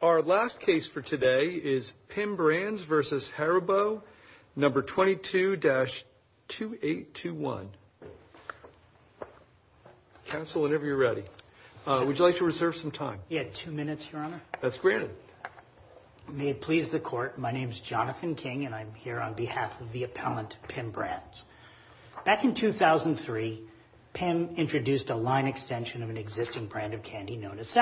Our last case for today is PIM Brands v. Haribo, No. 22-2821. Counsel, whenever you're ready. Would you like to reserve some time? You had two minutes, Your Honor. That's granted. May it please the court, my name is Jonathan King and I'm here on behalf of the appellant, PIM Brands. Back in 2003, PIM introduced a line extension of an existing brand of candy known as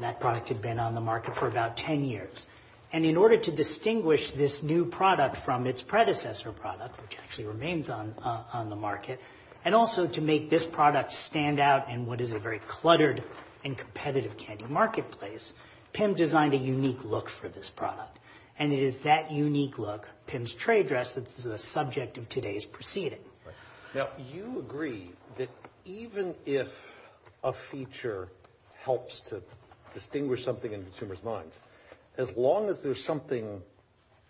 that product had been on the market for about 10 years. And in order to distinguish this new product from its predecessor product, which actually remains on the market, and also to make this product stand out in what is a very cluttered and competitive candy marketplace, PIM designed a unique look for this product. And it is that unique look, PIM's trade dress, that's the subject of today's proceeding. Now, you agree that even if a feature helps to distinguish something in consumers' minds, as long as there's something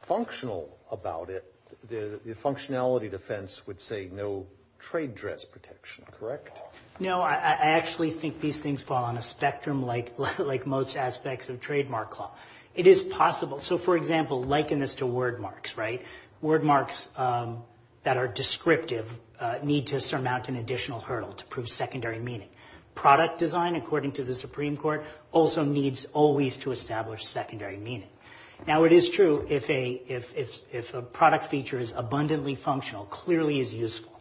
functional about it, the functionality defense would say no trade dress protection, correct? No, I actually think these things fall on a spectrum like most aspects of trademark law. It is possible. So, for example, liken this to word marks, right? Word marks that are descriptive need to surmount an additional hurdle to prove secondary meaning. Product design, according to the Supreme Court, also needs always to establish secondary meaning. Now, it is true if a product feature is abundantly functional, clearly is useful,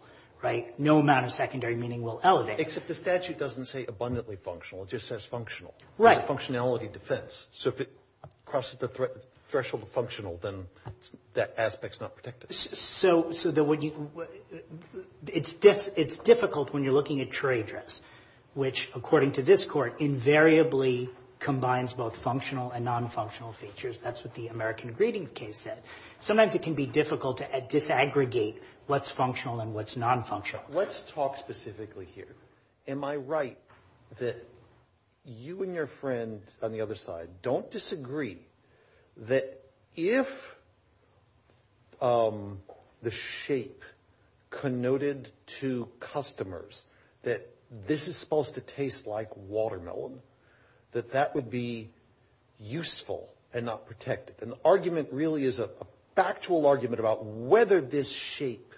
right? No amount of secondary meaning will elevate. Except the statute doesn't say abundantly functional, it just says functional. Right. Functionality defense. So, if it crosses the threshold of functional, then that aspect's not protected. So, it's difficult when you're looking at trade dress, which, according to this court, invariably combines both functional and non-functional features. That's what the American Greeting case said. Sometimes it can be difficult to disaggregate what's functional and what's non-functional. Let's talk specifically here. Am I right that you and your friend on the other side don't disagree that if the shape connoted to customers that this is supposed to taste like watermelon, that that would be useful and not protected? And the argument really is a factual argument about whether this shape,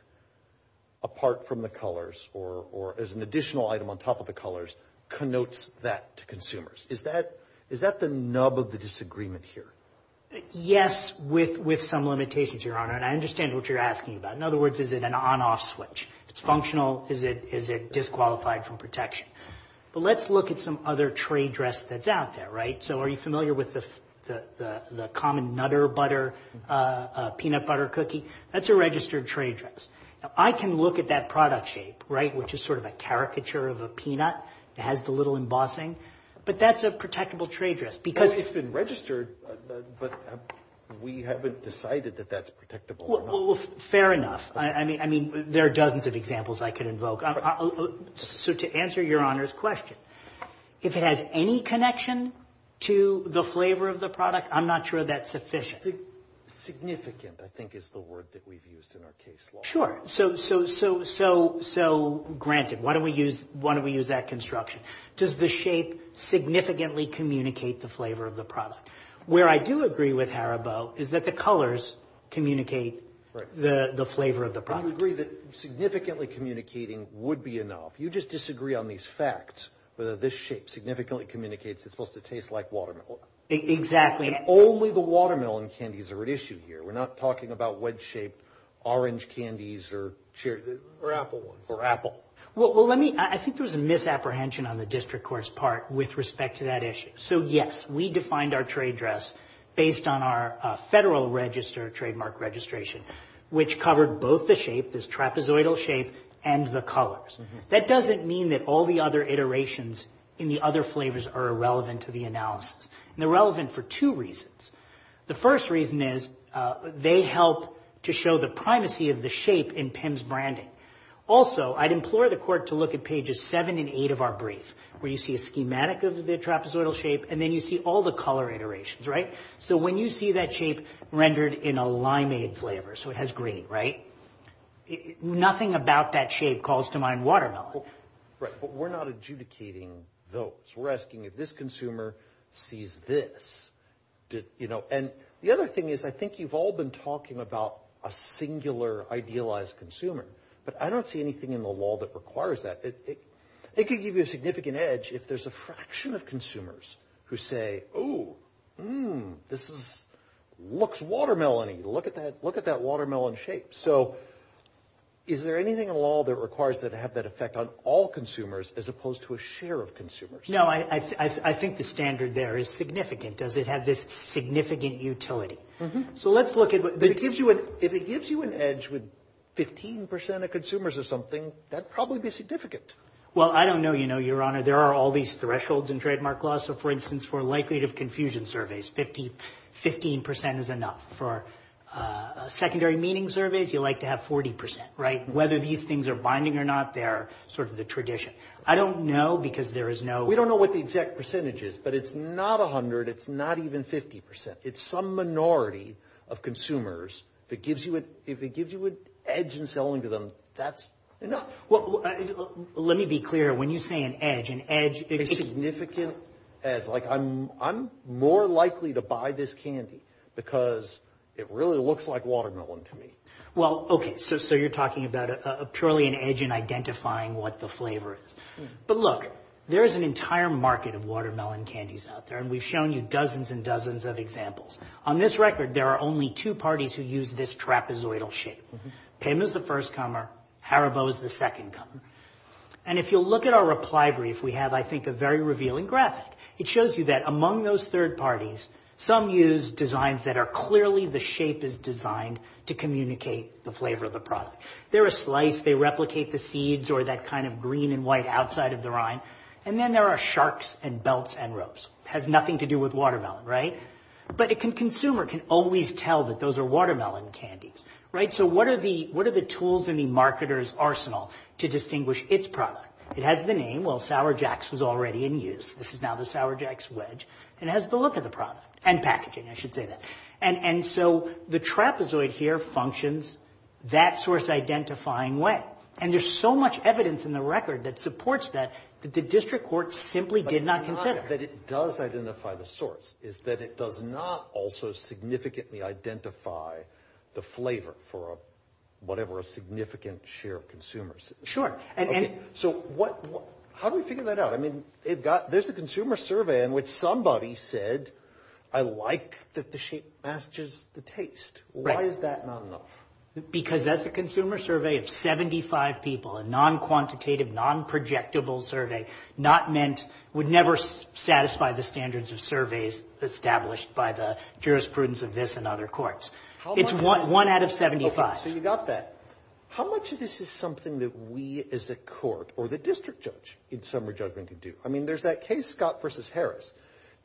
apart from the colors or as an additional item on top of the colors, connotes that to consumers. Is that the nub of the disagreement here? Yes, with some limitations, Your Honor. And I understand what you're asking about. In other words, is it an on-off switch? It's functional. Is it disqualified from protection? But let's look at some other trade dress that's out there, right? So, are you familiar with the common nutter butter, peanut butter cookie? That's a registered trade dress. I can look at that product shape, right, which is sort of a caricature of a peanut. It has the little embossing. But that's a protectable trade dress because It's been registered, but we haven't decided that that's protectable or not. Fair enough. I mean, there are dozens of examples I could invoke. So, to answer Your Honor's question, if it has any connection to the flavor of the product, I'm not sure that's sufficient. Significant, I think, is the word that we've used in our case law. Sure. So, granted, why don't we use that construction? Does the shape significantly communicate the flavor of the product? Where I do agree with Haribo is that the colors communicate the flavor of the product. I would agree that significantly communicating would be enough. You just disagree on these facts, whether this shape significantly communicates it's supposed to taste like watermelon. Exactly. Only the watermelon candies are at issue here. We're not talking about wedge-shaped orange candies or apple ones. I think there was a misapprehension on the district court's part with respect to that issue. So, yes, we defined our trade dress based on our federal trademark registration, which covered both the shape, this trapezoidal shape, and the colors. That doesn't mean that all the other iterations in the other flavors are irrelevant to the analysis. They're relevant for two reasons. The first reason is they help to show the primacy of the shape in PIMMS branding. Also, I'd implore the court to look at pages seven and eight of our brief, where you see a schematic of the trapezoidal shape, and then you see all the color iterations. So, when you see that shape rendered in a limeade flavor, so it has green, nothing about that shape calls to mind watermelon. But we're not adjudicating those. We're asking if this consumer sees this. You know, and the other thing is I think you've all been talking about a singular idealized consumer, but I don't see anything in the law that requires that. It could give you a significant edge if there's a fraction of consumers who say, oh, this looks watermelon-y. Look at that watermelon shape. So, is there anything in the law that requires that to have that effect on all consumers as opposed to a share of consumers? No, I think the standard there is significant. Does it have this significant utility? So, let's look at what... If it gives you an edge with 15% of consumers or something, that'd probably be significant. Well, I don't know, Your Honor. There are all these thresholds in trademark law. So, for instance, for likelihood of confusion surveys, 15% is enough. For secondary meaning surveys, you like to have 40%, right? Whether these things are binding or not, they're sort of the tradition. I don't know because there is no... But it's not 100%. It's not even 50%. It's some minority of consumers. If it gives you an edge in selling to them, that's enough. Well, let me be clear. When you say an edge, an edge... A significant edge. Like, I'm more likely to buy this candy because it really looks like watermelon to me. Well, okay. So, you're talking about purely an edge in identifying what the flavor is. But look, there is an entire market of watermelon candies out there, and we've shown you dozens and dozens of examples. On this record, there are only two parties who use this trapezoidal shape. Pim is the first comer. Haribo is the second comer. And if you'll look at our reply brief, we have, I think, a very revealing graphic. It shows you that among those third parties, some use designs that are clearly the shape is designed to communicate the flavor of the product. They're a slice. They replicate the seeds or that kind of green and white outside of the rind. And then there are sharks and belts and ropes. It has nothing to do with watermelon, right? But a consumer can always tell that those are watermelon candies, right? So, what are the tools in the marketer's arsenal to distinguish its product? It has the name. Well, Sour Jacks was already in use. This is now the Sour Jacks wedge. It has the look of the product and packaging, I should say that. And so, the trapezoid here functions that source-identifying way. And there's so much evidence in the record that supports that, that the district court simply did not consider. But it's not that it does identify the source. It's that it does not also significantly identify the flavor for whatever a significant share of consumers. Sure. So, how do we figure that out? I mean, there's a consumer survey in which somebody said, I like that the shape matches the taste. Why is that not enough? Because that's a consumer survey of 75 people, a non-quantitative, non-projectable survey, not meant, would never satisfy the standards of surveys established by the jurisprudence of this and other courts. It's one out of 75. Okay. So, you got that. How much of this is something that we as a court or the district judge in summary judgment can do? I mean, there's that case, Scott v. Harris.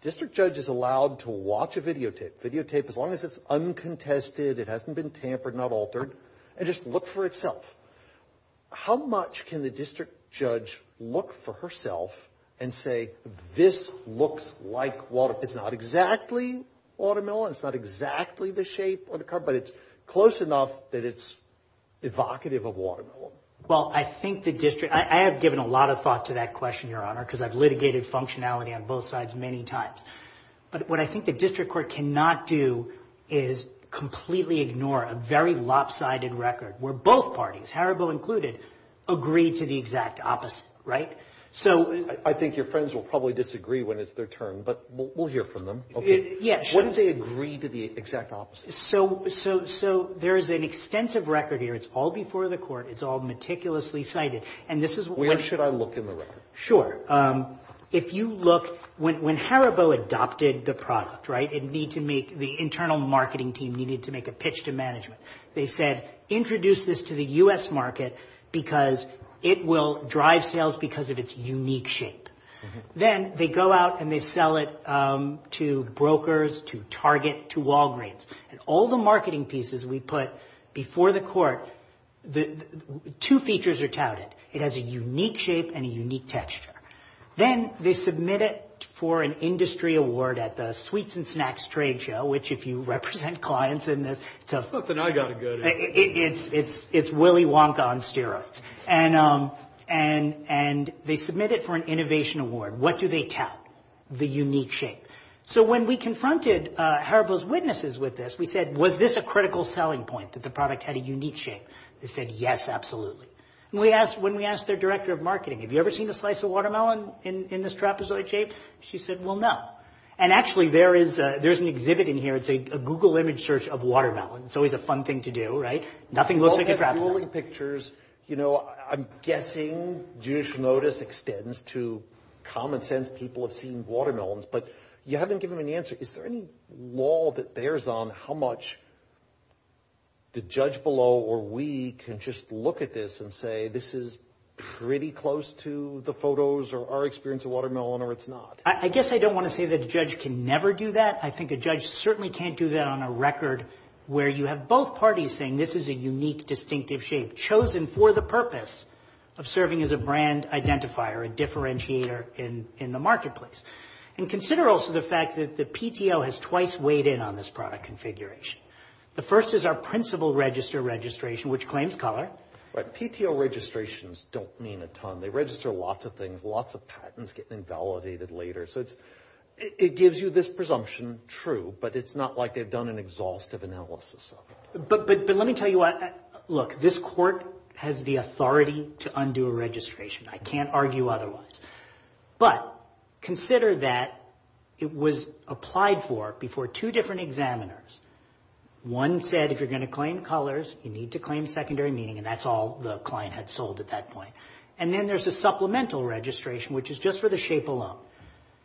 District judge is allowed to watch a videotape, videotape as long as it's uncontested, it hasn't been tampered, not altered, and just look for itself. How much can the district judge look for herself and say, this looks like watermelon? It's not exactly watermelon. It's not exactly the shape or the color, but it's close enough that it's evocative of watermelon. Well, I think the district, I have given a lot of thought to that question, Your Honor, because I've litigated functionality on both sides many times. But what I think the district court cannot do is completely ignore a very lopsided record where both parties, Haribo included, agreed to the exact opposite, right? So — I think your friends will probably disagree when it's their turn, but we'll hear from them. Yes. What did they agree to the exact opposite? So, there's an extensive record here. It's all before the court. It's all meticulously cited. And this is — Sure. If you look, when Haribo adopted the product, right, it needed to make — the internal marketing team needed to make a pitch to management. They said, introduce this to the U.S. market because it will drive sales because of its unique shape. Then they go out and they sell it to brokers, to Target, to Walgreens. And all the marketing pieces we put before the court, two features are touted. It has a unique shape and a unique texture. Then they submit it for an industry award at the Sweets and Snacks trade show, which if you represent clients in this — It's something I've got to go to. It's Willy Wonka on steroids. And they submit it for an innovation award. What do they tout? The unique shape. So, when we confronted Haribo's witnesses with this, was this a critical selling point, that the product had a unique shape? They said, yes, absolutely. And when we asked their director of marketing, have you ever seen a slice of watermelon in this trapezoid shape? She said, well, no. And actually, there is an exhibit in here. It's a Google image search of watermelon. It's always a fun thing to do, right? Nothing looks like a trapezoid. All those pictures, I'm guessing judicial notice extends to common sense. People have seen much. The judge below or we can just look at this and say, this is pretty close to the photos or our experience of watermelon, or it's not. I guess I don't want to say that a judge can never do that. I think a judge certainly can't do that on a record where you have both parties saying this is a unique, distinctive shape, chosen for the purpose of serving as a brand identifier, a differentiator in the marketplace. And consider also the fact that the PTO has twice weighed in on this product configuration. The first is our principal register registration, which claims color. But PTO registrations don't mean a ton. They register lots of things, lots of patents getting invalidated later. So it gives you this presumption true, but it's not like they've done an exhaustive analysis of it. But let me tell you what, look, this court has the authority to undo a registration. I can't that it was applied for before two different examiners. One said, if you're going to claim colors, you need to claim secondary meaning, and that's all the client had sold at that point. And then there's a supplemental registration, which is just for the shape alone.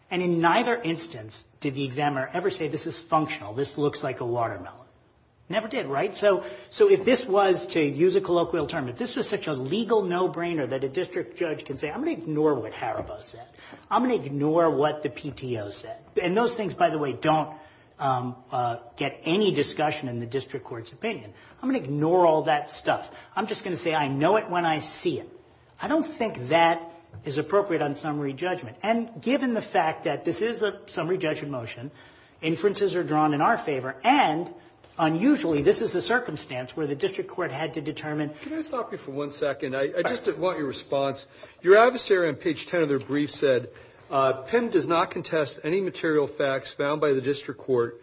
And in neither instance did the examiner ever say, this is functional, this looks like a watermelon. Never did, right? So if this was, to use a colloquial term, if this was such a legal no-brainer that a district judge can say, I'm going to ignore what Haribo said, I'm going to ignore what the PTO said. And those things, by the way, don't get any discussion in the district court's opinion. I'm going to ignore all that stuff. I'm just going to say, I know it when I see it. I don't think that is appropriate on summary judgment. And given the fact that this is a summary judgment motion, inferences are drawn in our favor, and unusually, this is a circumstance where the district court had to determine. Can I stop you for one second? I just want your response. Your adversary on page 10 of PIM does not contest any material facts found by the district court,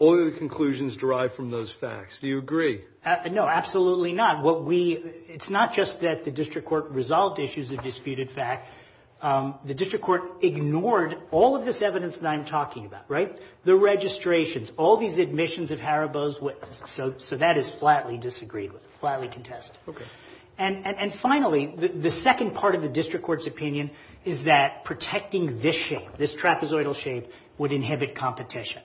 only the conclusions derived from those facts. Do you agree? No, absolutely not. What we, it's not just that the district court resolved issues of disputed fact. The district court ignored all of this evidence that I'm talking about, right? The registrations, all these admissions of Haribo's, so that is flatly disagreed with, flatly contested. And finally, the second part of the district court's opinion is that protecting this shape, this trapezoidal shape, would inhibit competition.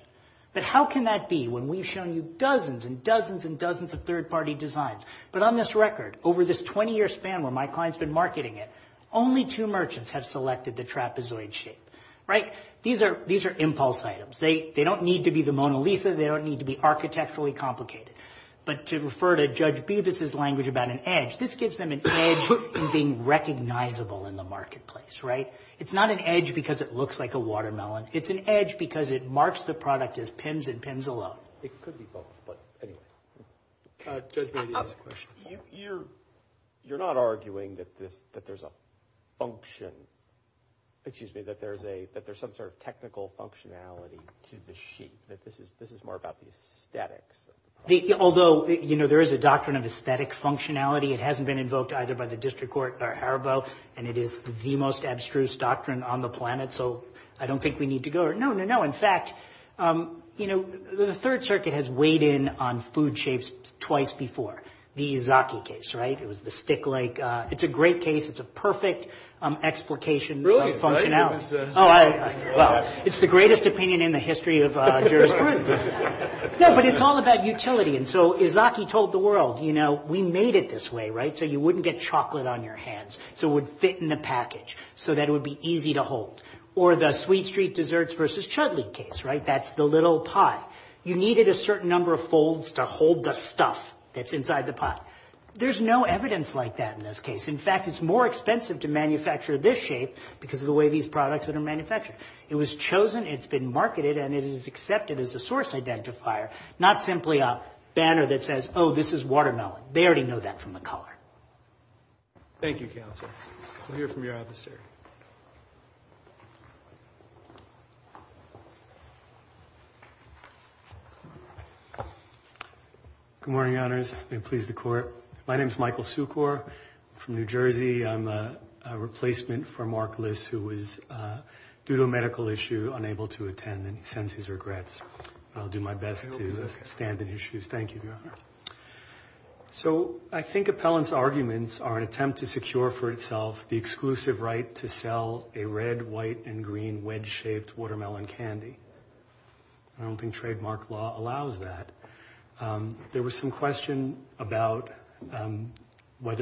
But how can that be when we've shown you dozens and dozens and dozens of third-party designs? But on this record, over this 20-year span where my client's been marketing it, only two merchants have selected the trapezoid shape, right? These are impulse items. They don't need to be the Mona Lisa. They don't need to be an edge. This gives them an edge in being recognizable in the marketplace, right? It's not an edge because it looks like a watermelon. It's an edge because it marks the product as PIMS and PIMS alone. It could be both, but anyway. Judge Brady has a question. You're not arguing that there's a function, excuse me, that there's some sort of technical functionality to the sheet, that this is more about the aesthetics of the product? Although, you know, there is a doctrine of aesthetic functionality. It hasn't been invoked either by the district court or Haribo, and it is the most abstruse doctrine on the planet, so I don't think we need to go there. No, no, no. In fact, you know, the Third Circuit has weighed in on food shapes twice before. The Izaki case, right? It was the stick-like. It's a great case. It's a perfect explication of functionality. Really? I didn't even say that. Oh, well, it's the greatest opinion in the history of jurisprudence. No, but it's all about utility, and so Izaki told the world, you know, we made it this way, right, so you wouldn't get chocolate on your hands, so it would fit in a package, so that it would be easy to hold. Or the Sweet Street Desserts versus Chutley case, right? That's the little pie. You needed a certain number of folds to hold the stuff that's inside the pot. There's no evidence like that in this case. In fact, it's more expensive to manufacture this shape because of the way these products are manufactured. It was chosen, it's been marketed, and it is accepted as a source identifier, not simply a banner that says, oh, this is watermelon. They already know that from the color. Thank you, counsel. We'll hear from your officer. Good morning, Your Honors. May it please the Court. My name is Michael Sukor. I'm from New Jersey. I'm a replacement for Mark Liss, who was, due to a medical issue, unable to attend, and he sends his regrets. I'll do my best to stand in his shoes. Thank you, Your Honor. So, I think Appellant's arguments are an attempt to secure for itself the exclusive right to sell a red, white, and green wedge-shaped watermelon candy. I don't think trademark law allows that. There was some question about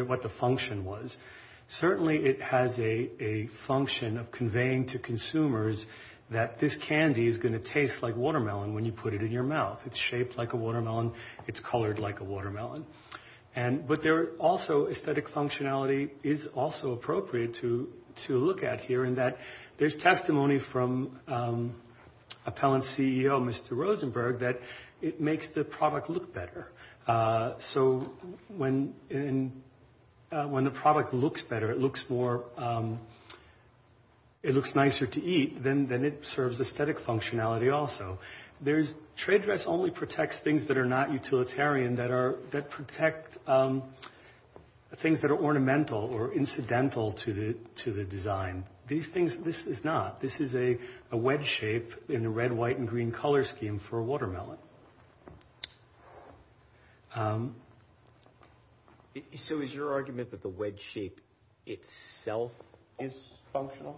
what the function was. Certainly, it has a function of conveying to consumers that this candy is going to taste like watermelon when you put it in your mouth. It's shaped like a watermelon. It's colored like a watermelon. But there are also aesthetic functionality is also appropriate to look at here in that there's testimony from Appellant's CEO, Mr. Rosenberg, that it makes the product look better. So, when the product looks better, it looks nicer to eat, then it serves aesthetic functionality also. Trade dress only protects things that are not utilitarian, that protect things that are ornamental or incidental to the design. These things, this is not. This is a red, white, and green color scheme for a watermelon. So, is your argument that the wedge shape itself is functional?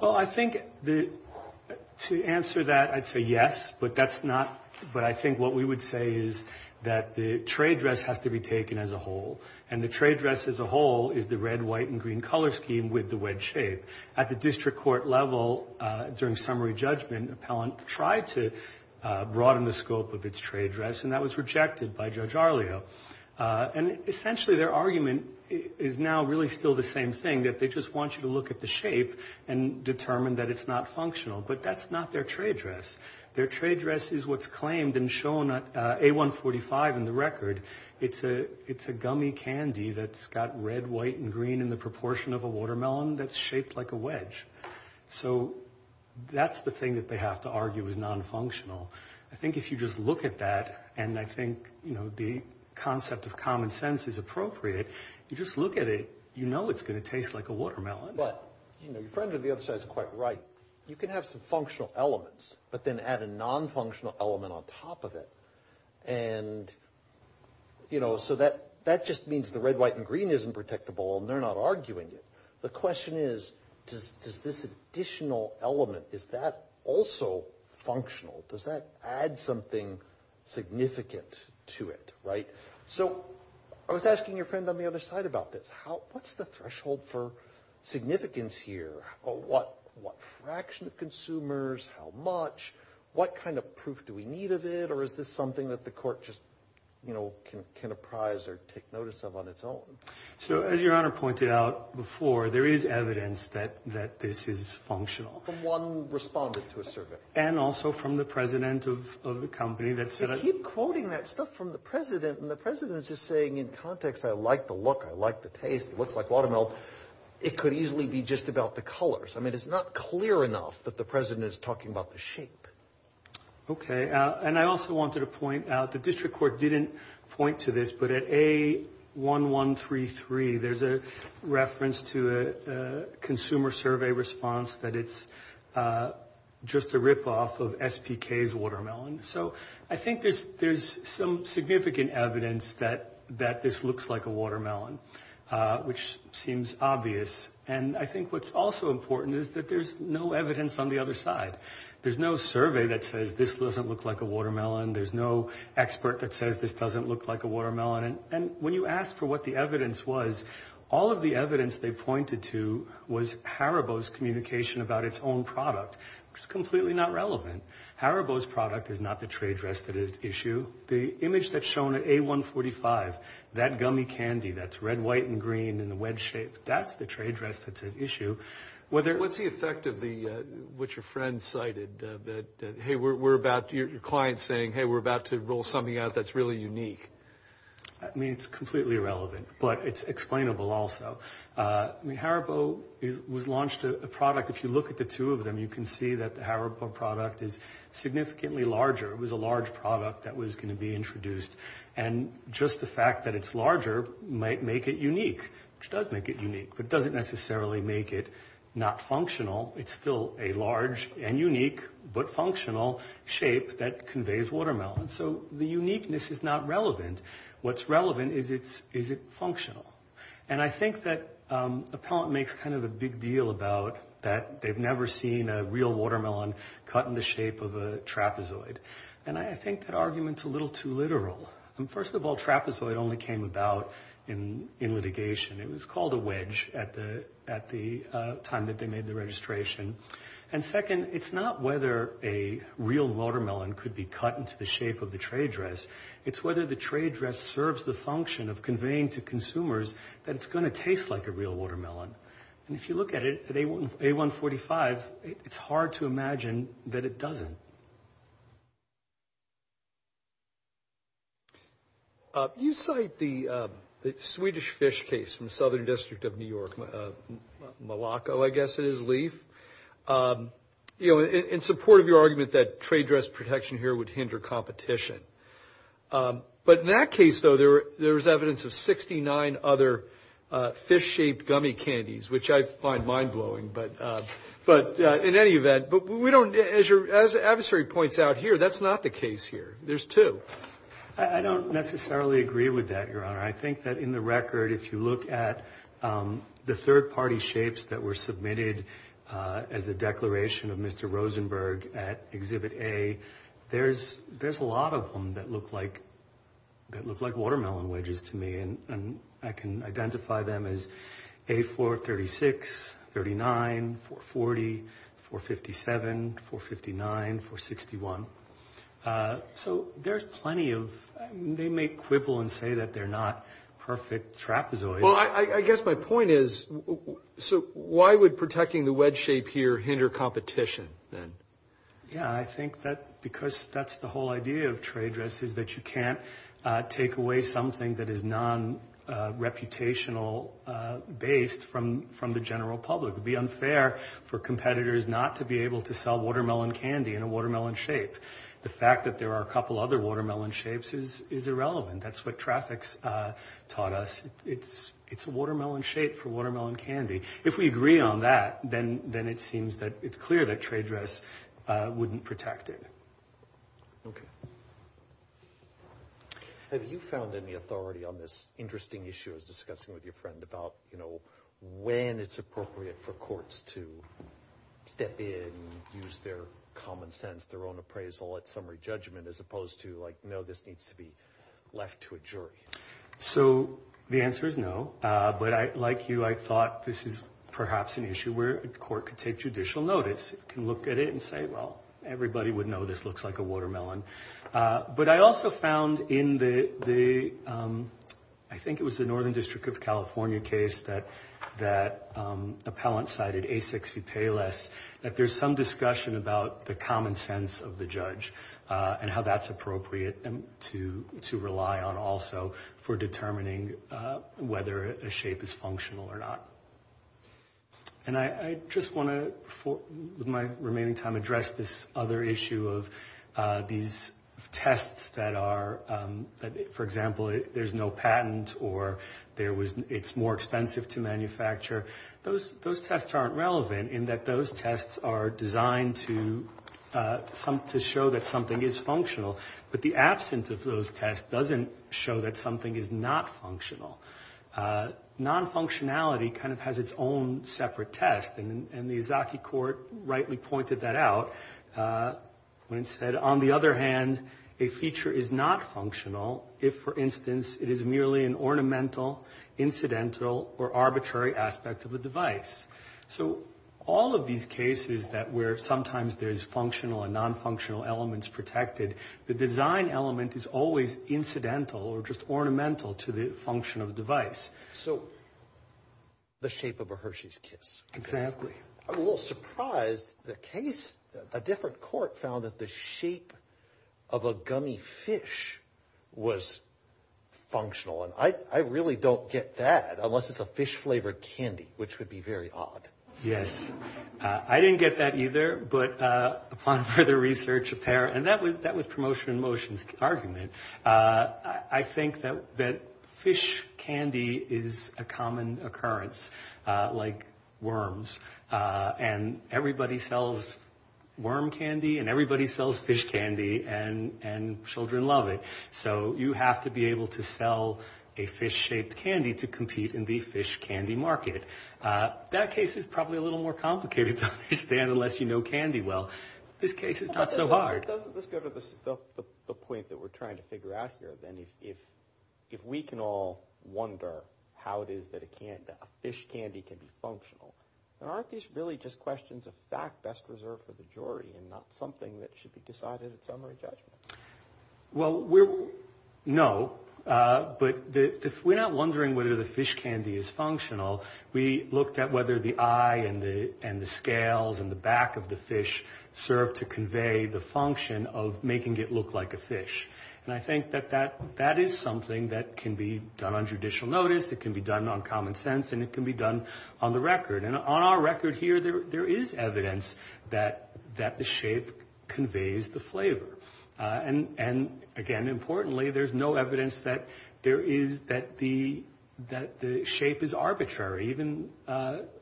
Well, I think to answer that, I'd say yes, but that's not. But I think what we would say is that the trade dress has to be taken as a whole. And the trade dress as a whole is the red, white, and green color scheme with the wedge shape. At the district court level, during summary judgment, Appellant tried to broaden the scope of its trade dress, and that was rejected by Judge Arlio. And essentially, their argument is now really still the same thing, that they just want you to look at the shape and determine that it's not functional. But that's not their trade dress. Their trade dress is what's claimed and shown at A145 in the record. It's a gummy candy that's got red, white, and green in the proportion of a watermelon that's shaped like a wedge. So, that's the thing that they have to argue is non-functional. I think if you just look at that, and I think, you know, the concept of common sense is appropriate, you just look at it, you know it's going to taste like a watermelon. But, you know, your friend on the other side is quite right. You can have some functional elements, but then add a non-functional element on top of it. And, you know, so that just means the red, white, and green isn't protectable, and they're not arguing it. The question is, does this additional element, is that also functional? Does that add something significant to it, right? So, I was asking your friend on the other side about this. What's the threshold for significance here? What fraction of consumers? How much? What kind of proof do we need of it? Or is this something that the court just, can apprise or take notice of on its own? So, as your honor pointed out before, there is evidence that this is functional. One responded to a survey. And also from the president of the company that said... You keep quoting that stuff from the president, and the president is just saying in context, I like the look, I like the taste, it looks like watermelon. It could easily be just about the colors. I mean, it's not clear enough that the president is talking about the shape. Okay, and I also wanted to point out, the district court didn't point to this, but at A1133, there's a reference to a consumer survey response that it's just a rip-off of SPK's watermelon. So, I think there's some significant evidence that this looks like a watermelon, which seems obvious. And I think what's also important is that there's no evidence on the other side. There's no survey that says this doesn't look like a watermelon. There's no expert that says this doesn't look like a watermelon. And when you asked for what the evidence was, all of the evidence they pointed to was Haribo's communication about its own product, which is completely not relevant. Haribo's product is not the trade rest that is at issue. The image that's shown at A145, that gummy candy that's red, white, and green in the wedge shape, that's the trade rest that's at issue. What's the effect of what your friend cited that, hey, we're about, your client's saying, hey, we're about to roll something out that's really unique. I mean, it's completely irrelevant, but it's explainable also. I mean, Haribo was launched a product, if you look at the two of them, you can see that the Haribo product is significantly larger. It was a large product that was going to be introduced. And just the fact that it's larger might make it unique, which does make it unique, but it doesn't necessarily make it not functional. It's still a large and unique but functional shape that conveys watermelon. So the uniqueness is not relevant. What's relevant is, is it functional? And I think that Appellant makes kind of a big deal about that they've never seen a real watermelon cut in the shape of a trapezoid. And I think that argument's a little too literal. First of all, trapezoid only came about in litigation. It was called a wedge at the time that they made the registration. And second, it's not whether a real watermelon could be cut into the shape of the tray dress. It's whether the tray dress serves the function of conveying to consumers that it's going to taste like a real watermelon. And if you look at it, at A145, it's hard to imagine that it doesn't. You cite the Swedish fish case from the Southern District of New York, Malaco, I guess it is, Leaf, in support of your argument that tray dress protection here would hinder competition. But in that case, though, there was evidence of 69 other fish-shaped gummy candies, which I find mind-blowing. But in any event, as your adversary points out here, that's not the case here. There's two. I don't necessarily agree with that, Your Honor. I think that in the record, if you look at the third-party shapes that were submitted as a declaration of Mr. Rosenberg at Exhibit A, there's a lot of them that look like 436, 439, 440, 457, 459, 461. So there's plenty of...they may quibble and say that they're not perfect trapezoids. Well, I guess my point is, so why would protecting the wedge shape here hinder competition then? Yeah, I think that because that's the whole idea of tray dresses, that you can't take away something that is non-reputational-based from the general public. It would be unfair for competitors not to be able to sell watermelon candy in a watermelon shape. The fact that there are a couple other watermelon shapes is irrelevant. That's what traffic's taught us. It's a watermelon shape for watermelon candy. If we agree on that, then it seems that it's clear that tray dress wouldn't protect it. Okay. Have you found any authority on this interesting issue I was discussing with your friend about when it's appropriate for courts to step in and use their common sense, their own appraisal at summary judgment, as opposed to like, no, this needs to be left to a jury? So the answer is no. But like you, I thought this is perhaps an issue where a court could take judicial notice, can look at it and say, well, everybody would know this looks like a watermelon. But I also found in the, I think it was the Northern District of California case that appellant cited A6P Payless, that there's some discussion about the common sense of the judge and how that's appropriate to rely on also for determining whether a shape is functional or not. And I just want to, with my remaining time, address this other issue of these tests that are, for example, there's no patent or it's more expensive to manufacture. Those tests aren't relevant in that those tests are designed to show that something is functional. But the absence of those tests doesn't show that something is not functional. Non-functionality kind of has its own separate test. And the Izaaki court rightly pointed that out when it said, on the other hand, a feature is not functional if, for instance, it is merely an ornamental, incidental, or arbitrary aspect of a device. So all of these cases that where sometimes there's functional and non-functional elements protected, the design element is always incidental or just ornamental to the function of the device. So the shape of a Hershey's Kiss. Exactly. I'm a little surprised the case, a different court found that the shape of a gummy fish was functional. And I really don't get that unless it's a fish-flavored candy, which would be very odd. Yes. I didn't get that either. But upon further research, a pair, and that was promotion in motion's argument. I think that fish candy is a common occurrence, like worms. And everybody sells worm candy, and everybody sells fish candy, and children love it. So you have to be able to sell a fish-shaped candy to compete in the fish candy market. That case is probably a little more complicated to understand unless you know candy well. This case is not so hard. Let's go to the point that we're trying to figure out here, then. If we can all wonder how it is that a fish candy can be functional, then aren't these really just questions of fact best reserved for the jury and not something that should be decided at summary judgment? Well, no. But if we're not wondering whether the fish candy is functional, we looked at whether the eye and the scales and the back of the fish served to convey the function of making it look like a fish. And I think that that is something that can be done on judicial notice, it can be done on common sense, and it can be done on the record. And on our record here, there is evidence that the shape conveys the flavor. And again, importantly, there's no evidence that the shape is arbitrary. Even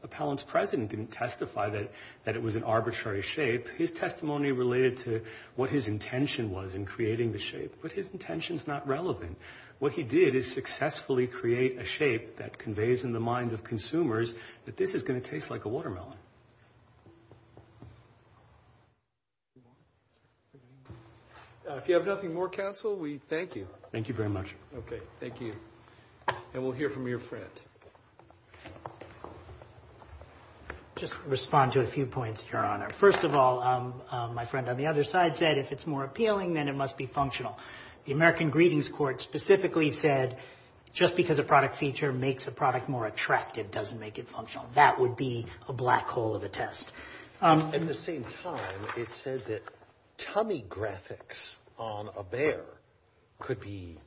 Appellant's President didn't testify that it was an arbitrary shape. His testimony related to what his intention was in creating the shape. But his intention is not relevant. What he did is successfully create a shape that conveys in the mind of consumers that this is going to taste like a watermelon. If you have nothing more, counsel, we thank you. Thank you very much. Okay, thank you. And we'll hear from your friend. Just respond to a few points, Your Honor. First of all, my friend on the other side said, if it's more appealing, then it must be functional. The American Greetings Court specifically said, just because a product feature makes a product more attractive doesn't make it functional. That would be a black hole of a test. At the same time, it says that tummy graphics on a bear could be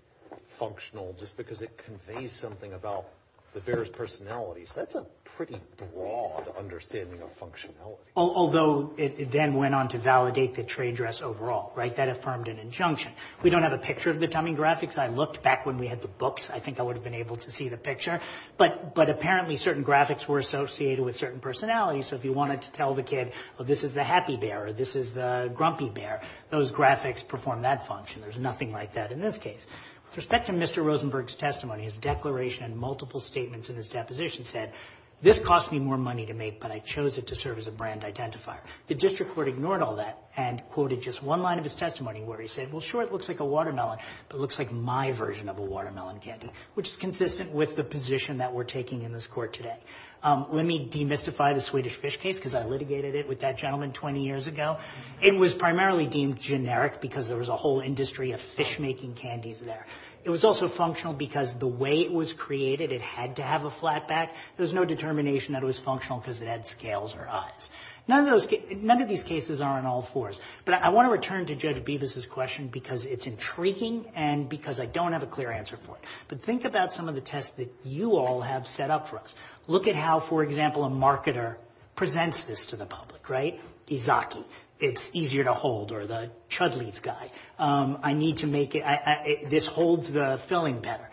functional just because it conveys something about the bear's personality. So that's a pretty broad understanding of functionality. Although it then went on to validate the trade dress overall, right? That affirmed an injunction. We don't have a picture of the tummy graphics. I looked back when we had the books. I think I would have been able to see the picture. But apparently certain graphics were associated with certain personalities. So if you wanted to tell the kid, oh, this is the happy bear or this is the grumpy bear, those graphics perform that function. There's nothing like that in this case. With respect to Mr. Rosenberg's testimony, his declaration and multiple statements in his deposition said, this cost me more money to make, but I chose it to serve as a brand identifier. The district court ignored all that and quoted just one line of his testimony where he said, well, sure, it looks like a watermelon, but it looks like my version of a watermelon candy, which is consistent with the position that we're taking in this court today. Let me demystify the Swedish fish case because I litigated it with that gentleman 20 years ago. It was primarily deemed generic because there was a whole industry of fish-making candies there. It was also functional because the way it was created, it had to have a flat back. There was no determination that it was functional because it had scales or eyes. None of those cases, none of these cases are on all fours. But I want to return to Judge Bevis's question because it's intriguing and because I don't have a clear answer for it. But think about some of the tests that you all have set up for us. Look at how, for example, a marketer presents this to the public, right? Izaki, it's easier to hold, or the Chudley's guy, I need to make it, this holds the filling better.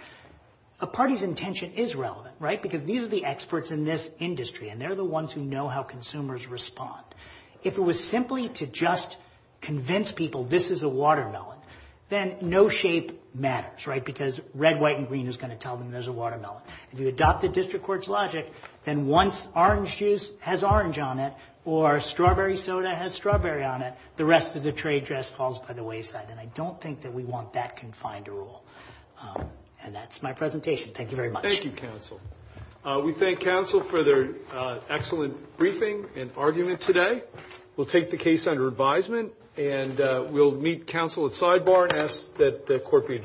A party's intention is relevant, right? Because these are the experts in this industry and they're the ones who know how consumers respond. If it was simply to just convince people this is a watermelon, then no shape matters, because red, white, and green is going to tell them there's a watermelon. If you adopt the district court's logic, then once orange juice has orange on it, or strawberry soda has strawberry on it, the rest of the trade dress falls by the wayside. And I don't think that we want that confined to rule. And that's my presentation. Thank you very much. Thank you, counsel. We thank counsel for their excellent briefing and argument today. We'll take the case under advisement and we'll meet counsel at sidebar and ask that the court be